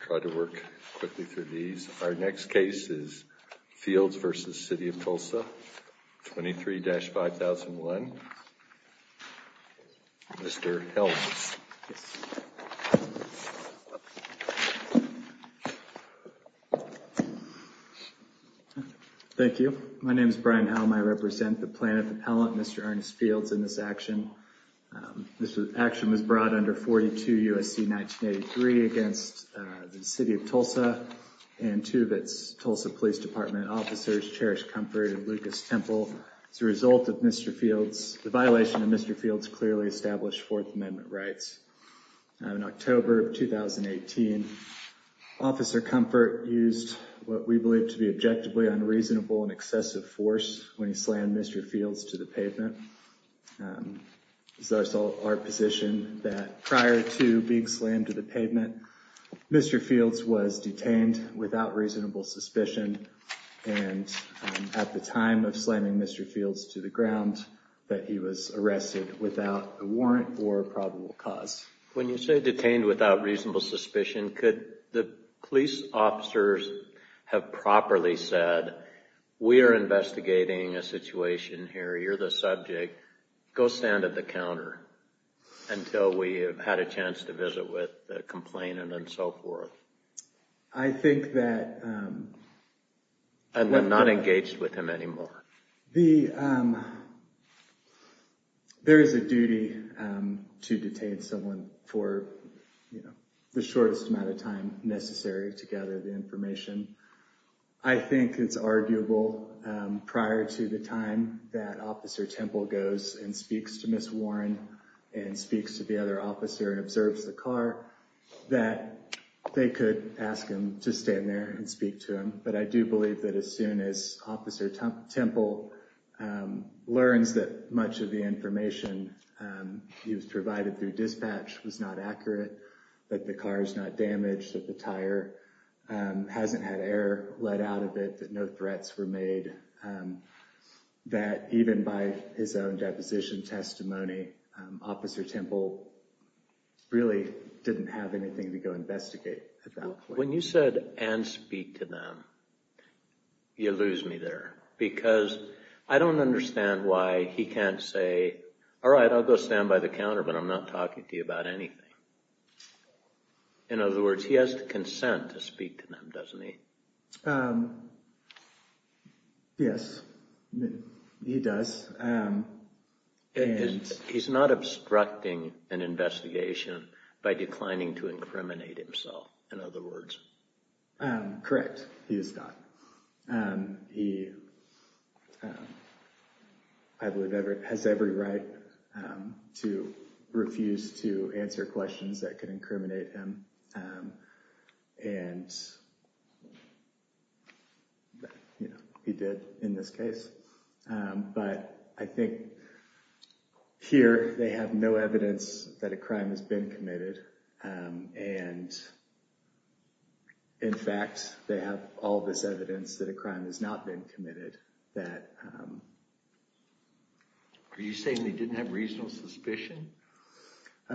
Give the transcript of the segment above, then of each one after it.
try to work quickly through these. Our next case is Fields v. City of Tulsa, 23-5001. Mr. Helms. Thank you. My name is Brian Helm. I represent the Planet Appellant, Mr. Ernest Fields, in this action. This action was brought under 42 U.S.C. 1983 against the City of Tulsa and two of its Tulsa Police Department officers, Cherish Comfort and Lucas Temple, as a result of Mr. Fields, the violation of Mr. Fields' clearly established Fourth Amendment rights. In October of 2018, Officer Comfort used what we believe to be objectively unreasonable and excessive force when he slammed Mr. Fields to the pavement. So it's our position that prior to being slammed to the pavement, Mr. Fields was detained without reasonable suspicion and at the time of slamming Mr. Fields to the ground that he was arrested without a warrant or probable cause. When you say detained without reasonable suspicion, could the police officers have properly said we are investigating a situation here, you're the subject, go stand at the counter until we have had a chance to visit with the complainant and so forth? I think that... And they're not engaged with him anymore. There is a duty to detain someone for the shortest amount of time necessary to gather the information. I think it's arguable prior to the time that Officer Temple goes and speaks to Miss Warren and speaks to the other officer and observes the car that they could ask him to stand there and speak to him. But I do believe that as soon as Officer Temple learns that much of the information he was provided through dispatch was not accurate, that the car is not damaged, that the tire hasn't had air let out of it, that no threats were made, that even by his own deposition testimony, Officer Temple really didn't have anything to go investigate at that point. When you said and speak to them, you lose me there because I don't understand why he can't say, all right, I'll go stand by the counter but I'm not talking to you about anything. In other words, he has the consent to speak to them, doesn't he? Yes, he does. He's not obstructing an investigation by declining to incriminate himself, in other words. Correct, he is not. He, I believe, has every right to refuse to answer questions that could incriminate him and he did in this case. But I think here they have no evidence that a crime has been committed and in fact they have all this evidence that a crime has not been committed. Are you saying they didn't have reasonable suspicion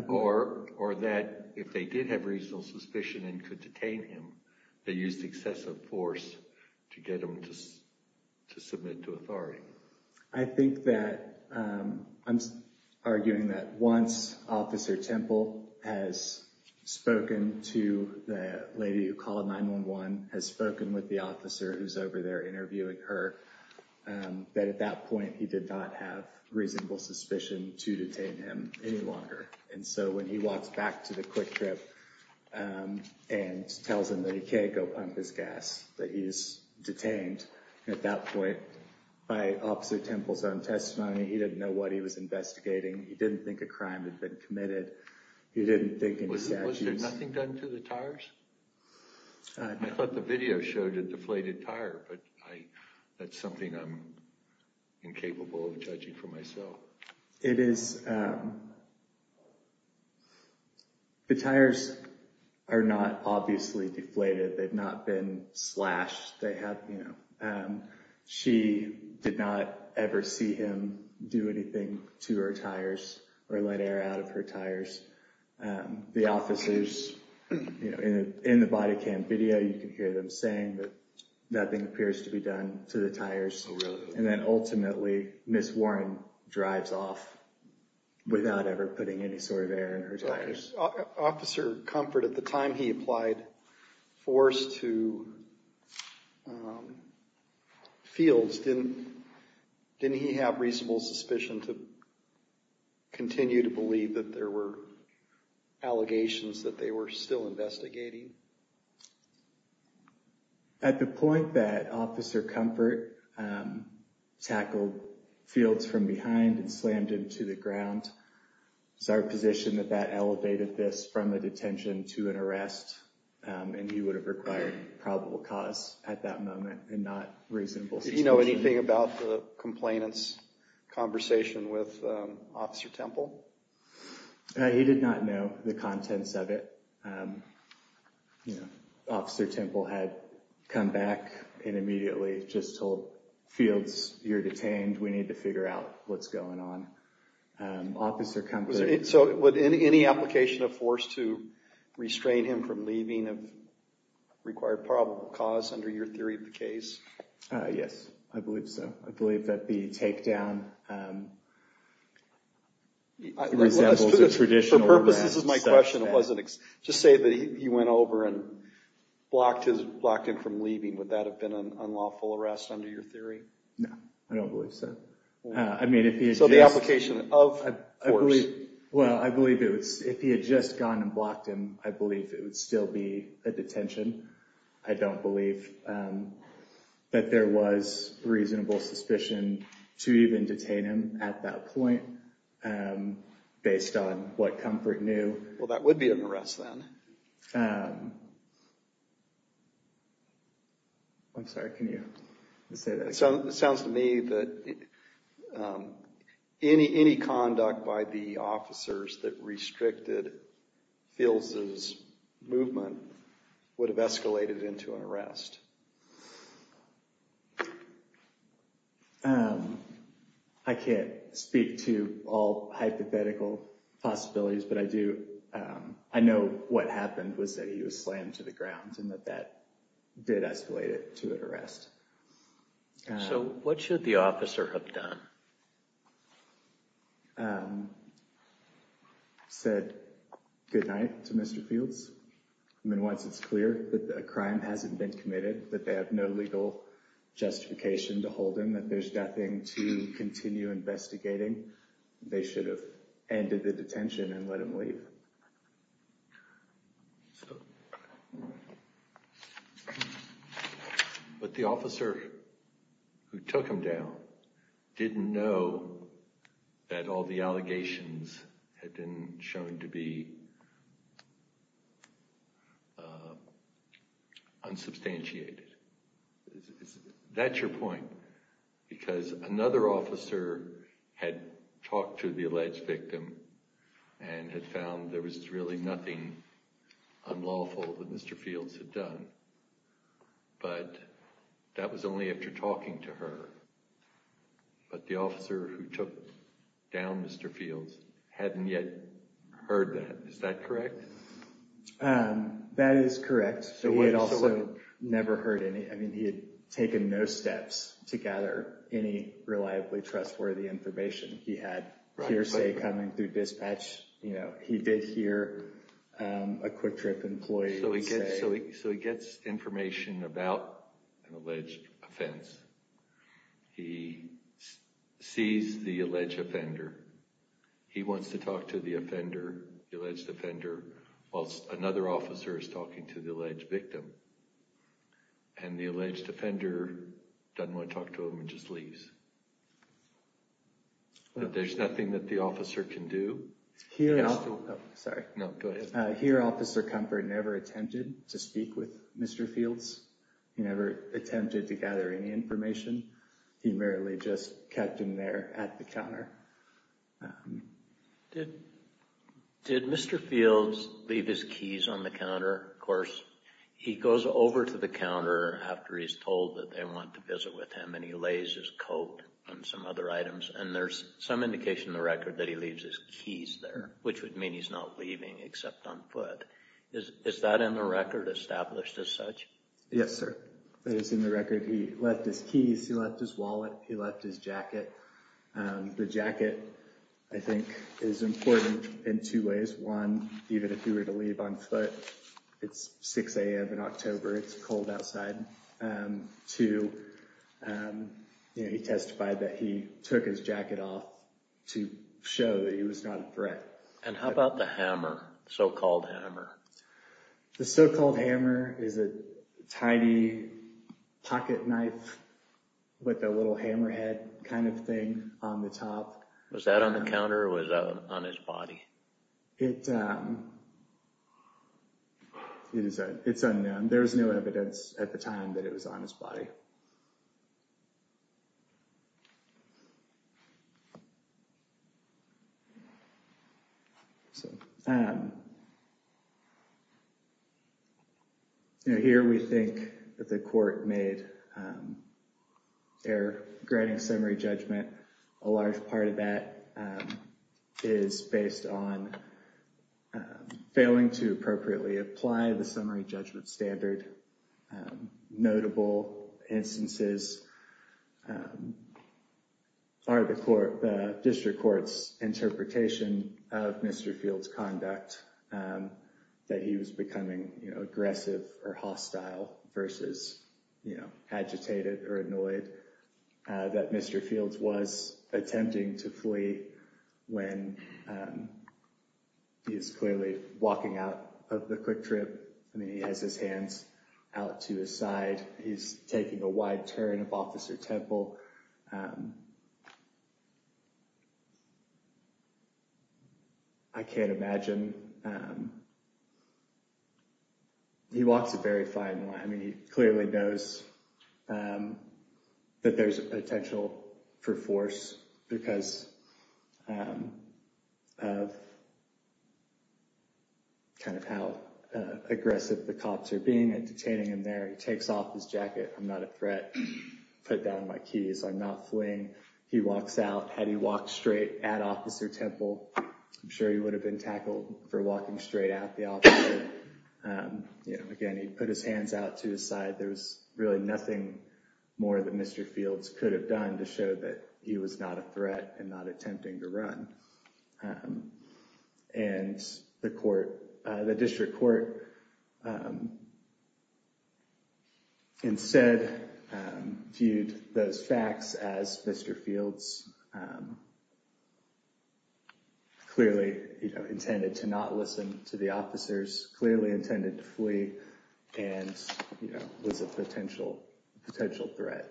or that if they did have reasonable suspicion and could detain him, they used excessive force to get him to submit to Officer Temple? Once Officer Temple has spoken to the lady who called 9-1-1, has spoken with the officer who's over there interviewing her, that at that point he did not have reasonable suspicion to detain him any longer. And so when he walks back to the quick trip and tells him that he can't go pump his gas, that he is detained at that point by Officer Temple's own testimony, he didn't know what he was investigating, he didn't think a crime had been committed, he didn't think... Was there nothing done to the tires? I thought the video showed a deflated tire, but that's something I'm incapable of judging for myself. It is, the tires are not obviously deflated. They've not been slashed. They have, you know, she did not ever see him do anything to her tires or let air out of her tires. The officers, you know, in the body cam video, you can hear them saying that nothing appears to be done to the tires. And then ultimately, Ms. Warren drives off without ever putting any sort of air in her tires. Officer Comfort, at the time he applied force to fields, didn't he have reasonable suspicion to continue to believe that there were allegations that they were still investigating? At the point that Officer Comfort tackled fields from behind and slammed into the ground, it's our position that that elevated this from a detention to an arrest, and he would have required probable cause at that moment and not reasonable suspicion. Did he know anything about the complainant's conversation with Officer Temple? He did not know the contents of it. You know, Officer Temple had come back and immediately just told fields, you're detained, we need to figure out what's going on. Officer Comfort... Would any application of force to restrain him from leaving require probable cause under your theory of the case? Yes, I believe so. I believe that the takedown resembles a traditional... For purposes of my question, just say that he went over and blocked him from leaving. Would that have been an unlawful arrest under your theory? No, I don't believe so. So the application of force? Well, I believe if he had just gone and blocked him, I believe it would still be a detention. I don't believe that there was reasonable suspicion to even detain him at that point based on what Comfort knew. Well, that would be an arrest then. I'm sorry, can you say that again? It sounds to me that any conduct by the officers that restricted Fields' movement would have escalated into an arrest. I can't speak to all hypothetical possibilities, but I do... I know what happened was that he was slammed to the ground and that that did escalate it to an arrest. So what should the officer have done? He said goodnight to Mr. Fields. I mean, once it's clear that a crime hasn't been committed, that they have no legal justification to hold him, that there's nothing to continue investigating, they should have ended the detention and let him leave. But the officer who took him down didn't know that all the allegations had been shown to be unsubstantiated. That's your point, because another officer had talked to the alleged victim and had found there was really nothing unlawful that Mr. Fields had done, but that was only after talking to her. But the officer who took down Mr. Fields hadn't yet heard that. Is that correct? That is correct. He had also never heard any... I mean, he had taken no steps to gather any reliably trustworthy information. He had hearsay coming through dispatch. You know, he did hear a Quick Trip employee say... So he gets information about an alleged offense. He sees the alleged offender. He wants to talk to the offender, the alleged offender, whilst another officer is talking to the alleged victim. And the alleged offender doesn't want to talk to him and just leaves. But there's nothing that the officer can do. Here... Sorry. No, go ahead. Here, Officer Comfort never attempted to speak with Mr. Fields. He never attempted to gather any information. He merely just kept him there at the counter. Did Mr. Fields leave his keys on the counter? Of course, he goes over to the counter after he's told that they want to visit with him, and he lays his coat and some other items. And there's some indication in the record that he leaves his keys there, which would mean he's not leaving except on foot. Is that in the record established as such? Yes, sir. That is in the record. He left his keys. He left his wallet. He left his jacket. The jacket, I think, is important in two ways. One, even if he were to leave on foot, it's 6 a.m. in October. It's cold outside. Two, he testified that he took his jacket off to show that he was not a threat. And how about the hammer, so-called hammer? The so-called hammer is a tiny pocket knife with a little hammerhead kind of thing on the top. Was that on the counter or was that on his body? It's unknown. There was no evidence at the time that it was on his body. So, you know, here we think that the court made error granting summary judgment. A large part of that is based on failing to appropriately apply the summary judgment standard. Notable instances are the district court's interpretation of Mr. Fields' conduct, that he was becoming, you know, aggressive or hostile versus, you know, agitated or annoyed, that Mr. Fields was attempting to flee when he is clearly walking out of the quick trip. I mean, he has his hands out to his side. He's taking a wide turn of Officer Temple. I can't imagine. He walks a very fine line. I mean, he clearly knows that there's a potential for force because of kind of how aggressive the cops are at detaining him there. He takes off his jacket. I'm not a threat. Put down my keys. I'm not fleeing. He walks out. Had he walked straight at Officer Temple, I'm sure he would have been tackled for walking straight at the officer. You know, again, he put his hands out to his side. There was really nothing more that Mr. Fields could have done to show that he was not a threat and not attempting to run. And the court, the district court, instead viewed those facts as Mr. Fields clearly, you know, intended to not listen to the officers, clearly intended to flee, and, you know, was a potential threat.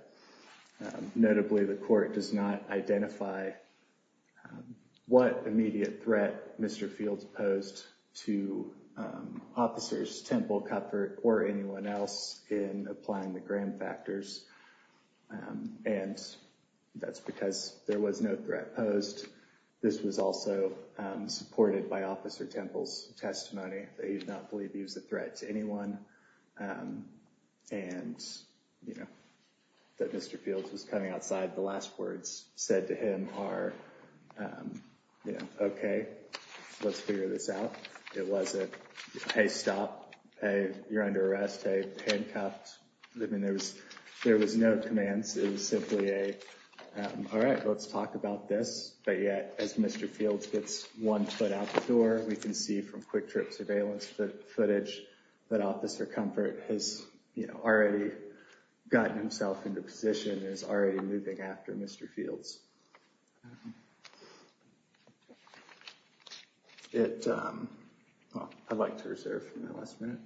Notably, the court does not identify what immediate threat Mr. Fields posed to Officers Temple, Cuthbert, or anyone else in applying the Graham factors. And that's because there was no threat posed. This was also supported by Officer Temple's testimony that he did not believe he was a threat to anyone. And, you know, that Mr. Fields was coming outside, the last words said to him are, you know, okay, let's figure this out. It wasn't, hey, stop. Hey, you're under arrest. Hey, handcuffed. I mean, there was no commands. It was simply a, all right, let's talk about this. But yet, as Mr. Fields gets one foot out the door, we can see from quick trip surveillance that footage that Officer Cuthbert has, you know, already gotten himself into a position, is already moving after Mr. Fields. I'd like to reserve my last minute.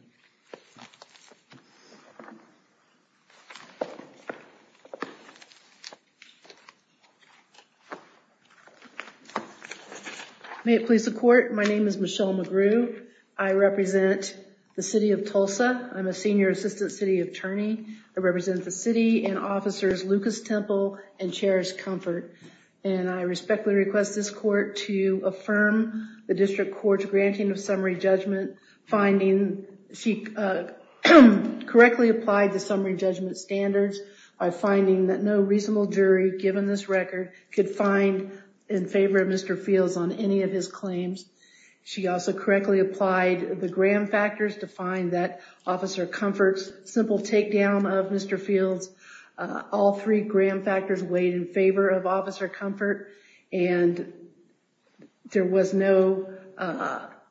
May it please the court. My name is Michelle McGrew. I represent the city of Tulsa. I'm a senior assistant city attorney. I represent the city and Officers Lucas Temple and Chairs Comfort. And I respectfully request this court to affirm the district court's granting of summary judgment, finding she correctly applied the summary judgment standards by finding that no reasonable jury, given this record, could find in favor of Mr. Fields on any of his claims. She also correctly applied the Graham factors to find that Officer Comfort's simple takedown of Mr. Fields, all three Graham factors weighed in favor of Officer Comfort. And there was no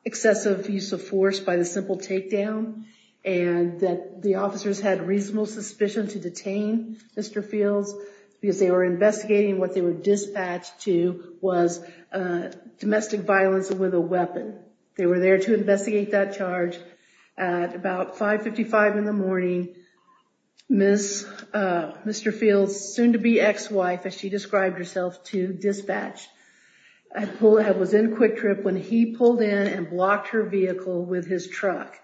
excessive use of force by the simple takedown. And that the officers had reasonable suspicion to detain Mr. Fields because they were investigating what they were dispatched to was domestic violence with a weapon. They were there to investigate that charge at about 555 in the morning. Mr. Fields, soon to be ex-wife, as she described herself to dispatch, had pulled, was in a quick trip when he pulled in and blocked her vehicle with his truck.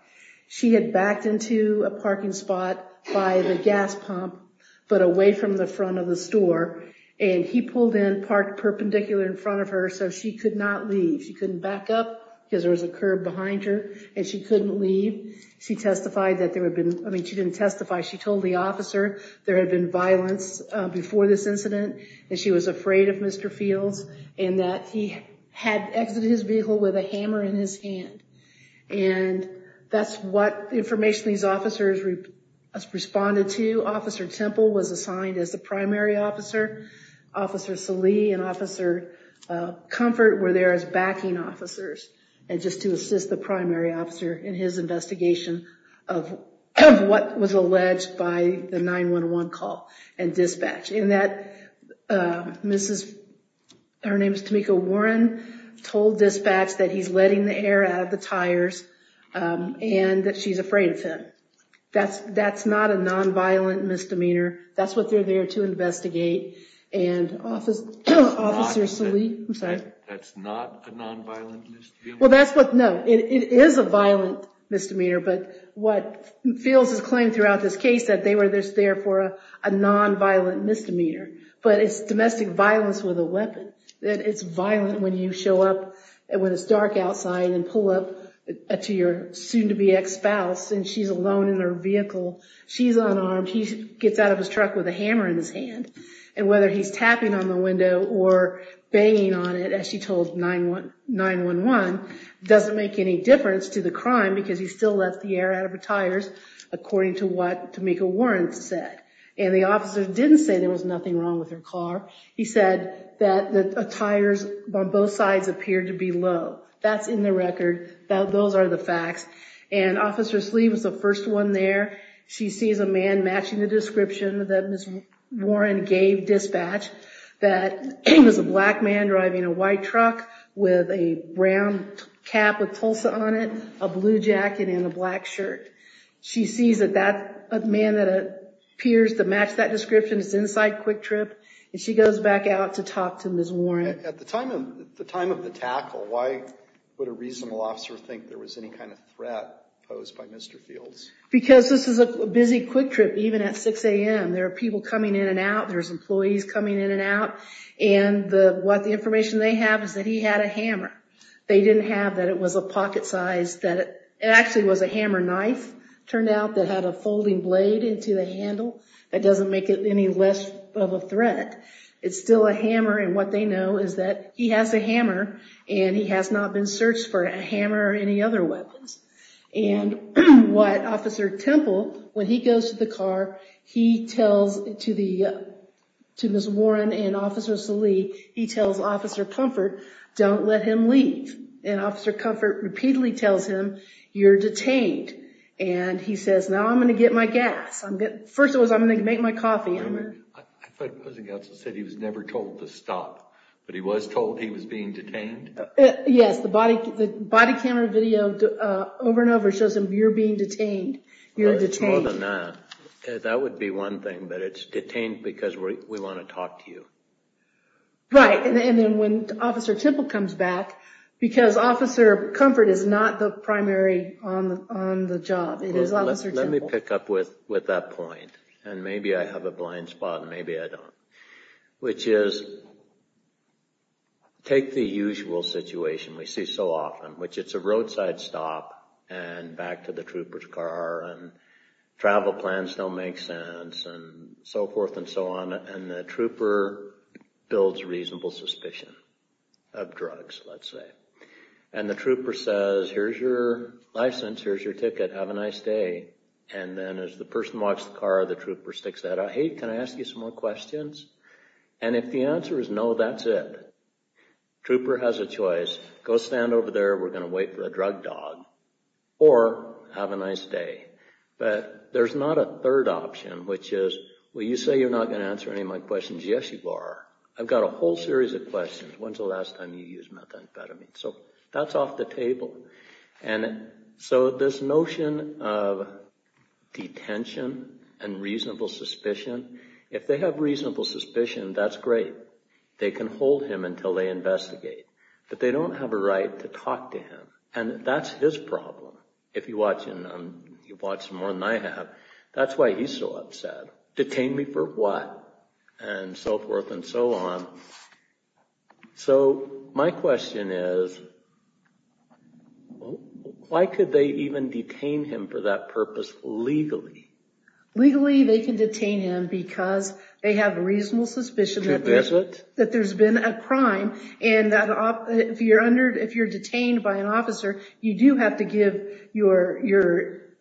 She had backed into a parking spot by the gas pump, but away from the front of the store. And he pulled in parked perpendicular in front of her so she could not leave. She couldn't back up because there was a curb behind her and she couldn't leave. She testified that there had been, I mean she didn't testify, she told the officer there had been violence before this and that he had exited his vehicle with a hammer in his hand. And that's what information these officers responded to. Officer Temple was assigned as the primary officer. Officer Salih and Officer Comfort were there as backing officers and just to assist the primary officer in his investigation of what was alleged by the 9-1-1 call and dispatch. And that Mrs, her name is Tamika Warren, told dispatch that he's letting the air out of the tires and that she's afraid of him. That's not a non-violent misdemeanor. That's what they're there to investigate. And Officer Salih, I'm sorry. That's not a non-violent misdemeanor? Well that's what, no, it is a violent misdemeanor. But what feels is claimed throughout this case that they were just there for a non-violent misdemeanor. But it's domestic violence with a weapon. It's violent when you show up when it's dark outside and pull up to your soon-to-be ex-spouse and she's alone in her vehicle. She's unarmed. He gets out of his truck with a hammer in his hand. And whether he's tapping on the window or banging on it, as she told 9-1-1, doesn't make any difference to the crime because he still let the air out of her tires according to what Tamika Warren said. And the officer didn't say there was nothing wrong with her car. He said that the tires on both sides appeared to be low. That's in the record. Those are the facts. And Officer Salih was the first one there. She sees a man matching the description that Ms. Warren gave dispatch that it was a black man driving a white truck with a brown cap with Tulsa on it, a blue jacket, and a black shirt. She sees a man that appears to match that description. It's inside Quick Trip. And she goes back out to talk to Ms. Warren. At the time of the tackle, why would a reasonable officer think there was any kind of threat posed by Mr. Fields? Because this is a busy Quick Trip, even at 6 a.m. There are people coming in and out. There's employees coming in and out. And what the information they have is that he had a hammer. They didn't have that it was a pocket-sized that it actually was a hammer knife. Turned out that had a folding blade into the handle. That doesn't make it any less of a threat. It's still a hammer. And what they know is that he has a hammer and he has not been searched for a hammer or any other weapons. And what Officer Temple, when he goes to the car, he tells to Ms. Warren and Officer Salee, he tells Officer Comfort, don't let him leave. And Officer Comfort repeatedly tells him, you're detained. And he says, now I'm going to get my gas. First of all, I'm going to make my coffee. I thought the opposing counsel said he was never told to stop, but he was told he was being detained? Yes, the body camera video over and over shows him, you're being detained. You're detained. That would be one thing, but it's detained because we want to talk to you. Right. And then when Officer Temple comes back, because Officer Comfort is not the primary on the job. Let me pick up with that point. And maybe I have a blind spot and maybe I don't. Which is take the usual situation we see so often, which it's a roadside stop and back to the trooper's car and travel plans don't make sense and so forth and so on. And the trooper builds reasonable suspicion of drugs, let's say. And the trooper says, here's your license. Here's your ticket. Have a nice day. And then as the person walks the car, the trooper sticks that out. Hey, can I ask you some more questions? And if the answer is no, that's it. Trooper has a choice. Go stand over there. We're going to wait for a drug dog or have a nice day. But there's not a third option, which is, well, you say you're not going to answer any of my questions. Yes, you are. I've got a whole series of questions. When's the last time you used methamphetamine? So that's off the table. And so this notion of detention and reasonable suspicion, if they have reasonable suspicion, that's great. They can hold him until they investigate. But they don't have a right to talk to him. And that's his problem. If you watch more than I have, that's why he's so upset. Detain me for what? And so forth and so on. So my question is, why could they even detain him for that purpose legally? Legally, they can detain him because they have reasonable suspicion that there's been a crime. And if you're detained by an officer, you do have to give your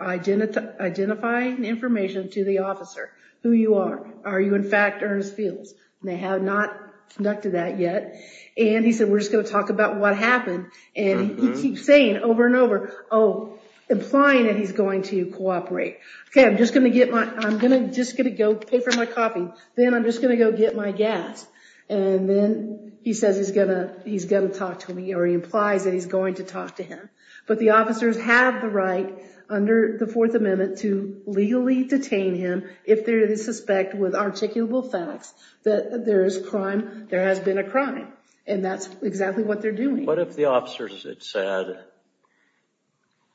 identifying information to the officer, who you are. Are you, in fact, Ernest Fields? They have not conducted that yet. And he said, we're just going to talk about what happened. And he keeps saying over and over, oh, implying that he's going to cooperate. Okay, I'm just going to get my, I'm going to just going to go pay for my coffee. Then I'm just going to go get my gas. And then he says he's going to, he's going to talk to me, or he implies that he's going to talk to him. But the officers have the right under the Fourth Amendment to legally detain him if they suspect with articulable facts that there is crime, there has been a crime. And that's exactly what they're doing. What if the officers had said,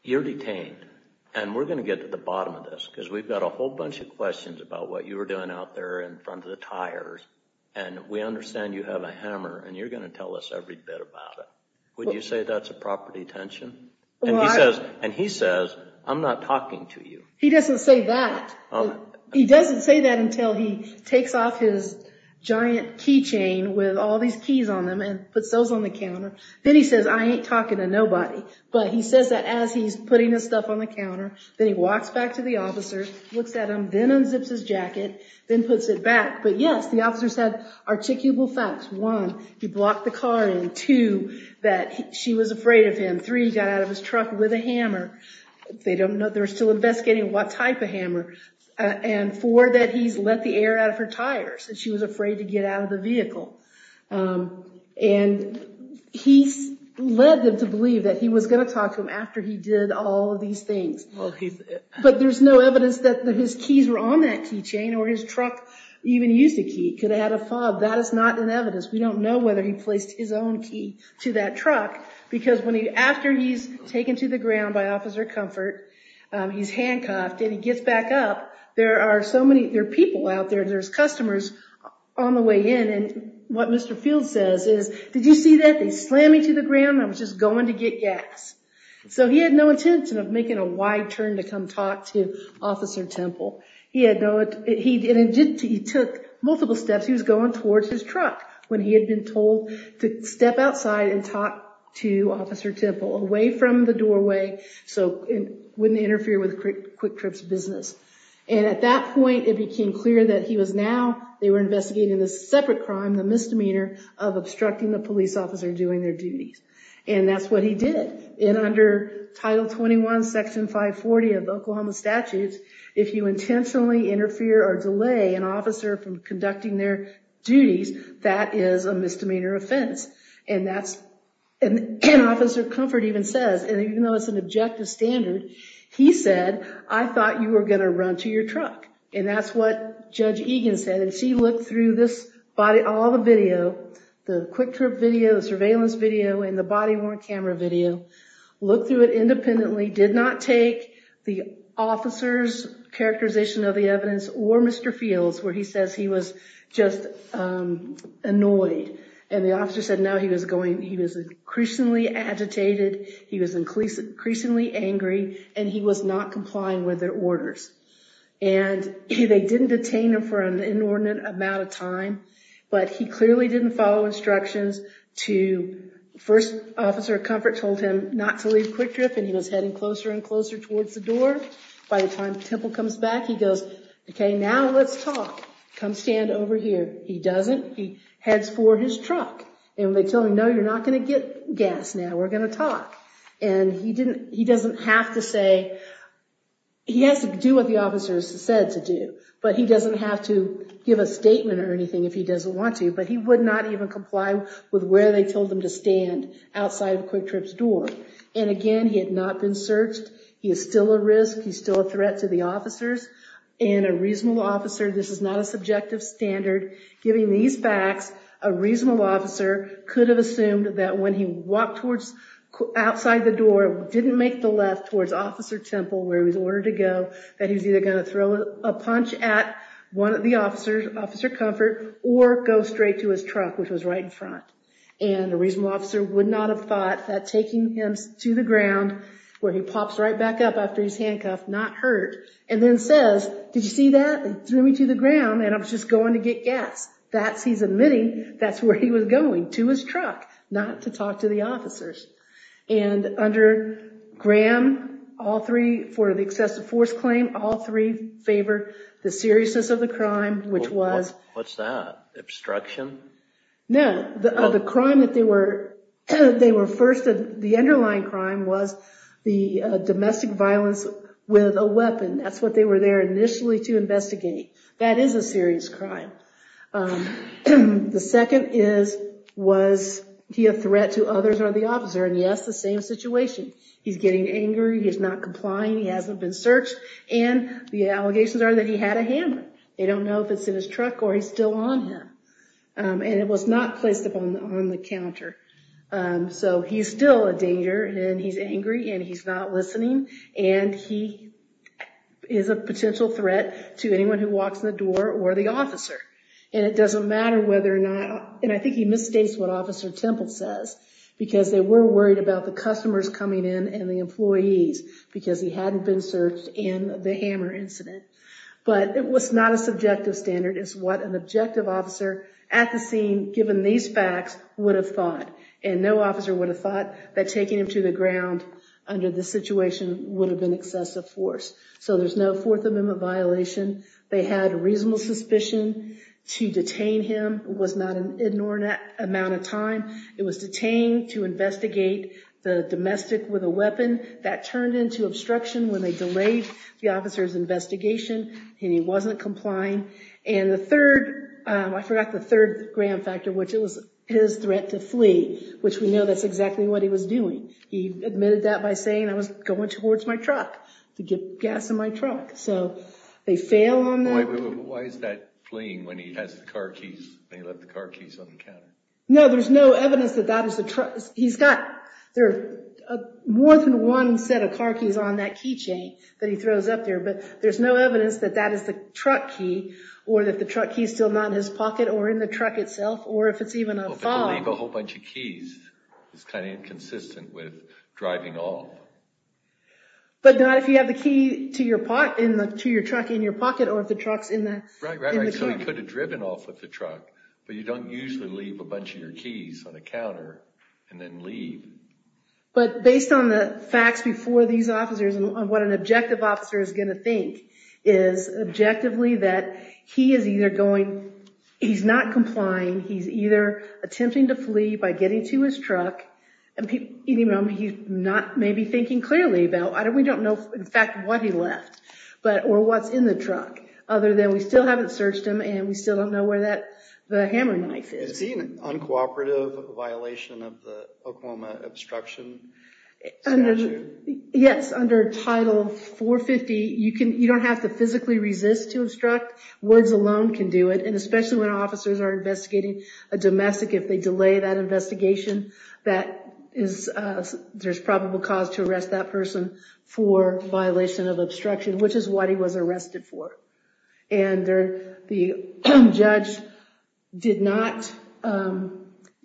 you're detained, and we're going to get to the bottom of this, because we've got a whole bunch of questions about what you were doing out there in front of the tires. And we understand you have a hammer, and you're going to tell us every bit about it. Would you say that's a proper detention? And he says, I'm not talking to you. He doesn't say that. He doesn't say that until he takes off his giant key chain with all these keys on them and puts those on the counter. Then he says, I ain't talking to nobody. But he says that as he's putting his stuff on the counter, then he walks back to the officer, looks at him, then unzips his jacket, then puts it back. But yes, the officers had articulable facts. One, he blocked the car in. Two, that she was afraid of him. Three, he got out of his truck with a hammer. They don't know. They're still investigating what type of hammer. And four, that he's let the air out of her tires, that she was afraid to get out of the vehicle. And he led them to believe that he was going to talk to him after he did all of these things. But there's no evidence that his keys were on that key chain, or his truck even used a key. It could have had a fob. That is not an evidence. We don't know whether he placed his own key to that truck. Because after he's taken to the ground by Officer Comfort, he's handcuffed, and he gets back up. There are so many people out there. There's customers on the way in. And what Mr. Field says is, did you see that? They slammed me to the ground. I was just going to get gas. So he had no intention of making a wide turn to come talk to Officer Temple. He took multiple steps. He was going towards his truck when he had been told to step outside and talk to Officer Temple, away from the doorway so it wouldn't interfere with Quick Trip's business. And at that point, it became clear that he was now, they were investigating this separate crime, the misdemeanor of obstructing the police officer doing their duties. And that's what he did. And under Title 21, Section 540 of Oklahoma statutes, if you intentionally interfere or delay an officer from conducting their duties, that is a misdemeanor offense. And that's, and Officer Comfort even says, and even though it's an objective standard, he said, I thought you were going to run to your truck. And that's what Judge Egan said. And she looked through this body, all the video, the Quick Trip video, the surveillance video, and the body-worn camera video, looked through it independently, did not take the officer's characterization of the evidence or Mr. Fields, where he says he was just annoyed. And the officer said, no, he was going, he was increasingly agitated, he was increasingly angry, and he was not complying with their orders. And they didn't detain him for an inordinate amount of time, but he clearly didn't follow instructions to, first, Officer Comfort told him not to leave Quick Trip, and he was heading closer and closer towards the door. By the time Temple comes back, he goes, okay, now let's talk. Come stand over here. He doesn't. He heads for his truck. And they tell him, no, you're not going to get gas now. We're going to talk. And he didn't, he doesn't have to say, he has to do what the officer said to do, but he doesn't have to give a statement or anything if he doesn't want to, but he would not even comply with where they told him to stand outside of Quick Trip's door. And again, he had not been searched. He is still a risk. He's still a threat to the officers. And a reasonable officer, this is not a subjective standard, giving these facts, a reasonable officer could have assumed that when he walked outside the door, didn't make the left towards Officer Temple, where he was ordered to go, that he was either going to throw a punch at the officers, Officer Comfort, or go straight to his truck, which was right in front. And a reasonable officer would not have thought that taking him to the ground, where he pops right back up after he's handcuffed, not hurt, and then says, did you see that? He threw me to the ground and I'm just going to get gas. That's, he's admitting, that's where he was going, to his truck, not to talk to the officers. And under Graham, all three, for the excessive force claim, all three favor the seriousness of the crime, which was... What's that? Obstruction? No, the crime that they were, they were first, the underlying crime was the domestic violence with a weapon. That's what they were there initially to investigate. That is a serious crime. The second is, was he a threat to others or the officer? And yes, the same situation. He's getting angry. He's not complying. He hasn't been searched. And the allegations are that he had a hammer. They don't know if it's in his truck or he's still on him. And it was not placed on the counter. So he's still a danger and he's angry and he's not listening. And he is a potential threat to anyone who walks in the door or the officer. And it doesn't matter whether or not, and I think he misstates what Officer Temple says, because they were worried about the customers coming in and the employees, because he hadn't been searched in the hammer incident. But it was not a subjective standard. It's what an objective officer at the scene, given these facts, would have thought. And no officer would have thought that taking him to the ground under the situation would have been excessive force. So there's no Fourth Amendment violation. They had reasonable suspicion. To detain him was not an inordinate amount of time. It was detained to investigate the domestic with a weapon. That turned into obstruction when they delayed the officer's investigation and he wasn't complying. And the third, I forgot the third gram factor, which it was his threat to flee, which we know that's exactly what he was doing. He admitted that by saying, I was going towards my truck to get gas in my truck. So they fail on that. Why is that fleeing when he has the car keys? They left the car keys on the counter. No, there's no evidence that that is the truck. He's got, there are more than one set of car keys on that key chain that he throws up there. But there's no evidence that that is the truck key, or that the truck key is still not in his pocket or in the truck itself, or if it's even a fob. But to leave a whole bunch of keys is kind of inconsistent with driving off. But not if you have the key to your pocket, to your truck in your pocket, or if the truck's in the car. Right, right, right. So he could have driven off with the whole bunch of your keys on a counter and then leave. But based on the facts before these officers, and what an objective officer is going to think, is objectively that he is either going, he's not complying, he's either attempting to flee by getting to his truck, and he's not maybe thinking clearly about, we don't know in fact what he left, or what's in the truck, other than we still haven't searched him and we still don't know where the hammer knife is. Is he an uncooperative violation of the Oklahoma Obstruction Statute? Yes, under Title 450, you don't have to physically resist to obstruct. Words alone can do it, and especially when officers are investigating a domestic, if they delay that investigation, there's probable cause to arrest that person for violation of obstruction, which is what he was arrested for. And the judge did not,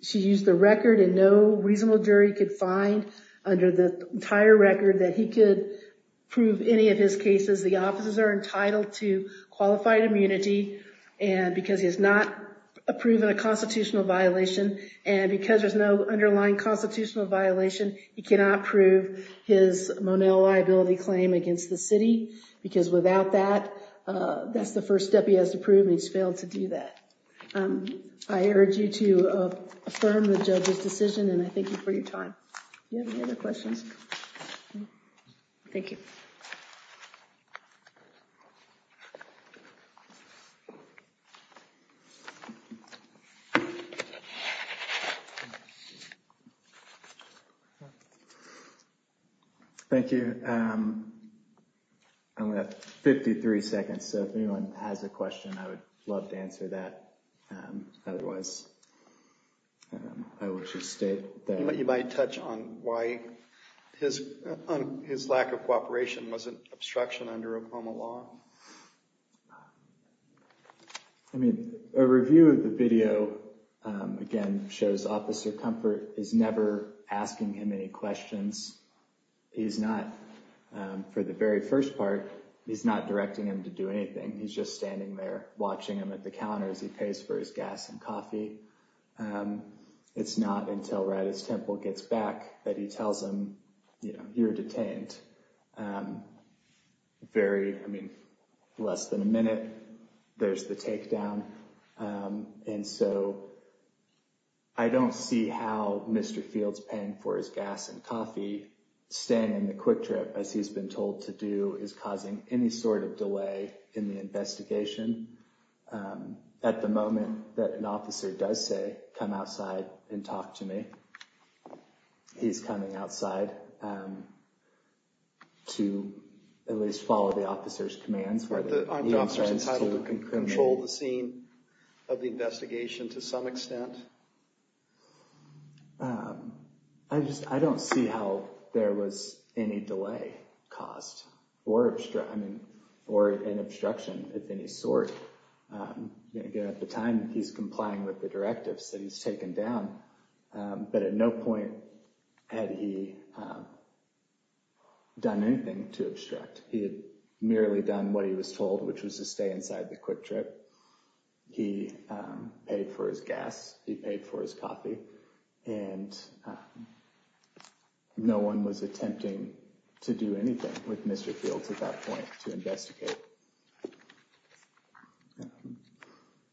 she used the record, and no reasonable jury could find under the entire record that he could prove any of his cases. The officers are entitled to qualified immunity, and because he has not approved a constitutional violation, and because there's no underlying constitutional violation, he cannot prove his Monell liability claim against the city, because without that, that's the first step he has to prove, and he's failed to do that. I urge you to affirm the judge's decision, and I thank you for your time. You have any other questions? Thank you. Thank you. I only have 53 seconds, so if anyone has a question, I would love to answer that. Otherwise, I would just state that... You might touch on why his lack of cooperation was an obstruction under Oklahoma law. I mean, a review of the video, again, shows Officer Comfort is never asking him any questions. He's not, for the very first part, he's not directing him to do anything. He's just standing there watching him at the counter as he pays for his gas and coffee. It's not until Raddatz Temple gets back that he tells him, you know, you're detained. Very, I mean, less than a minute, there's the takedown, and so I don't see how Mr. Fields paying for his gas and coffee, staying in the quick trip, as he's been told to do, is causing any sort of delay in the investigation. At the moment that an officer does say, come outside and talk to me, he's coming outside to at least follow the officer's commands. Aren't the officers entitled to control the scene of the investigation to some extent? I just, I don't see how there was any delay caused or obstruction, I mean, or an obstruction of any sort. Again, at the time, he's complying with the directives that he's taken down, but at no point had he done anything to obstruct. He had merely done what he was told, which was to stay inside the quick trip. He paid for his gas, he paid for his coffee, and no one was attempting to do anything with Mr. Fields at that point to investigate.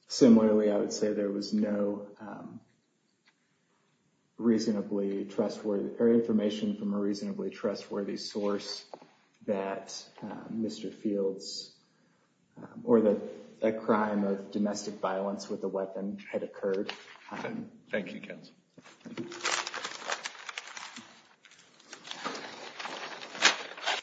Similarly, I would say there was no reasonably trustworthy, or information from a reasonably trustworthy source that Mr. Fields, or that a crime of domestic violence with a weapon had occurred.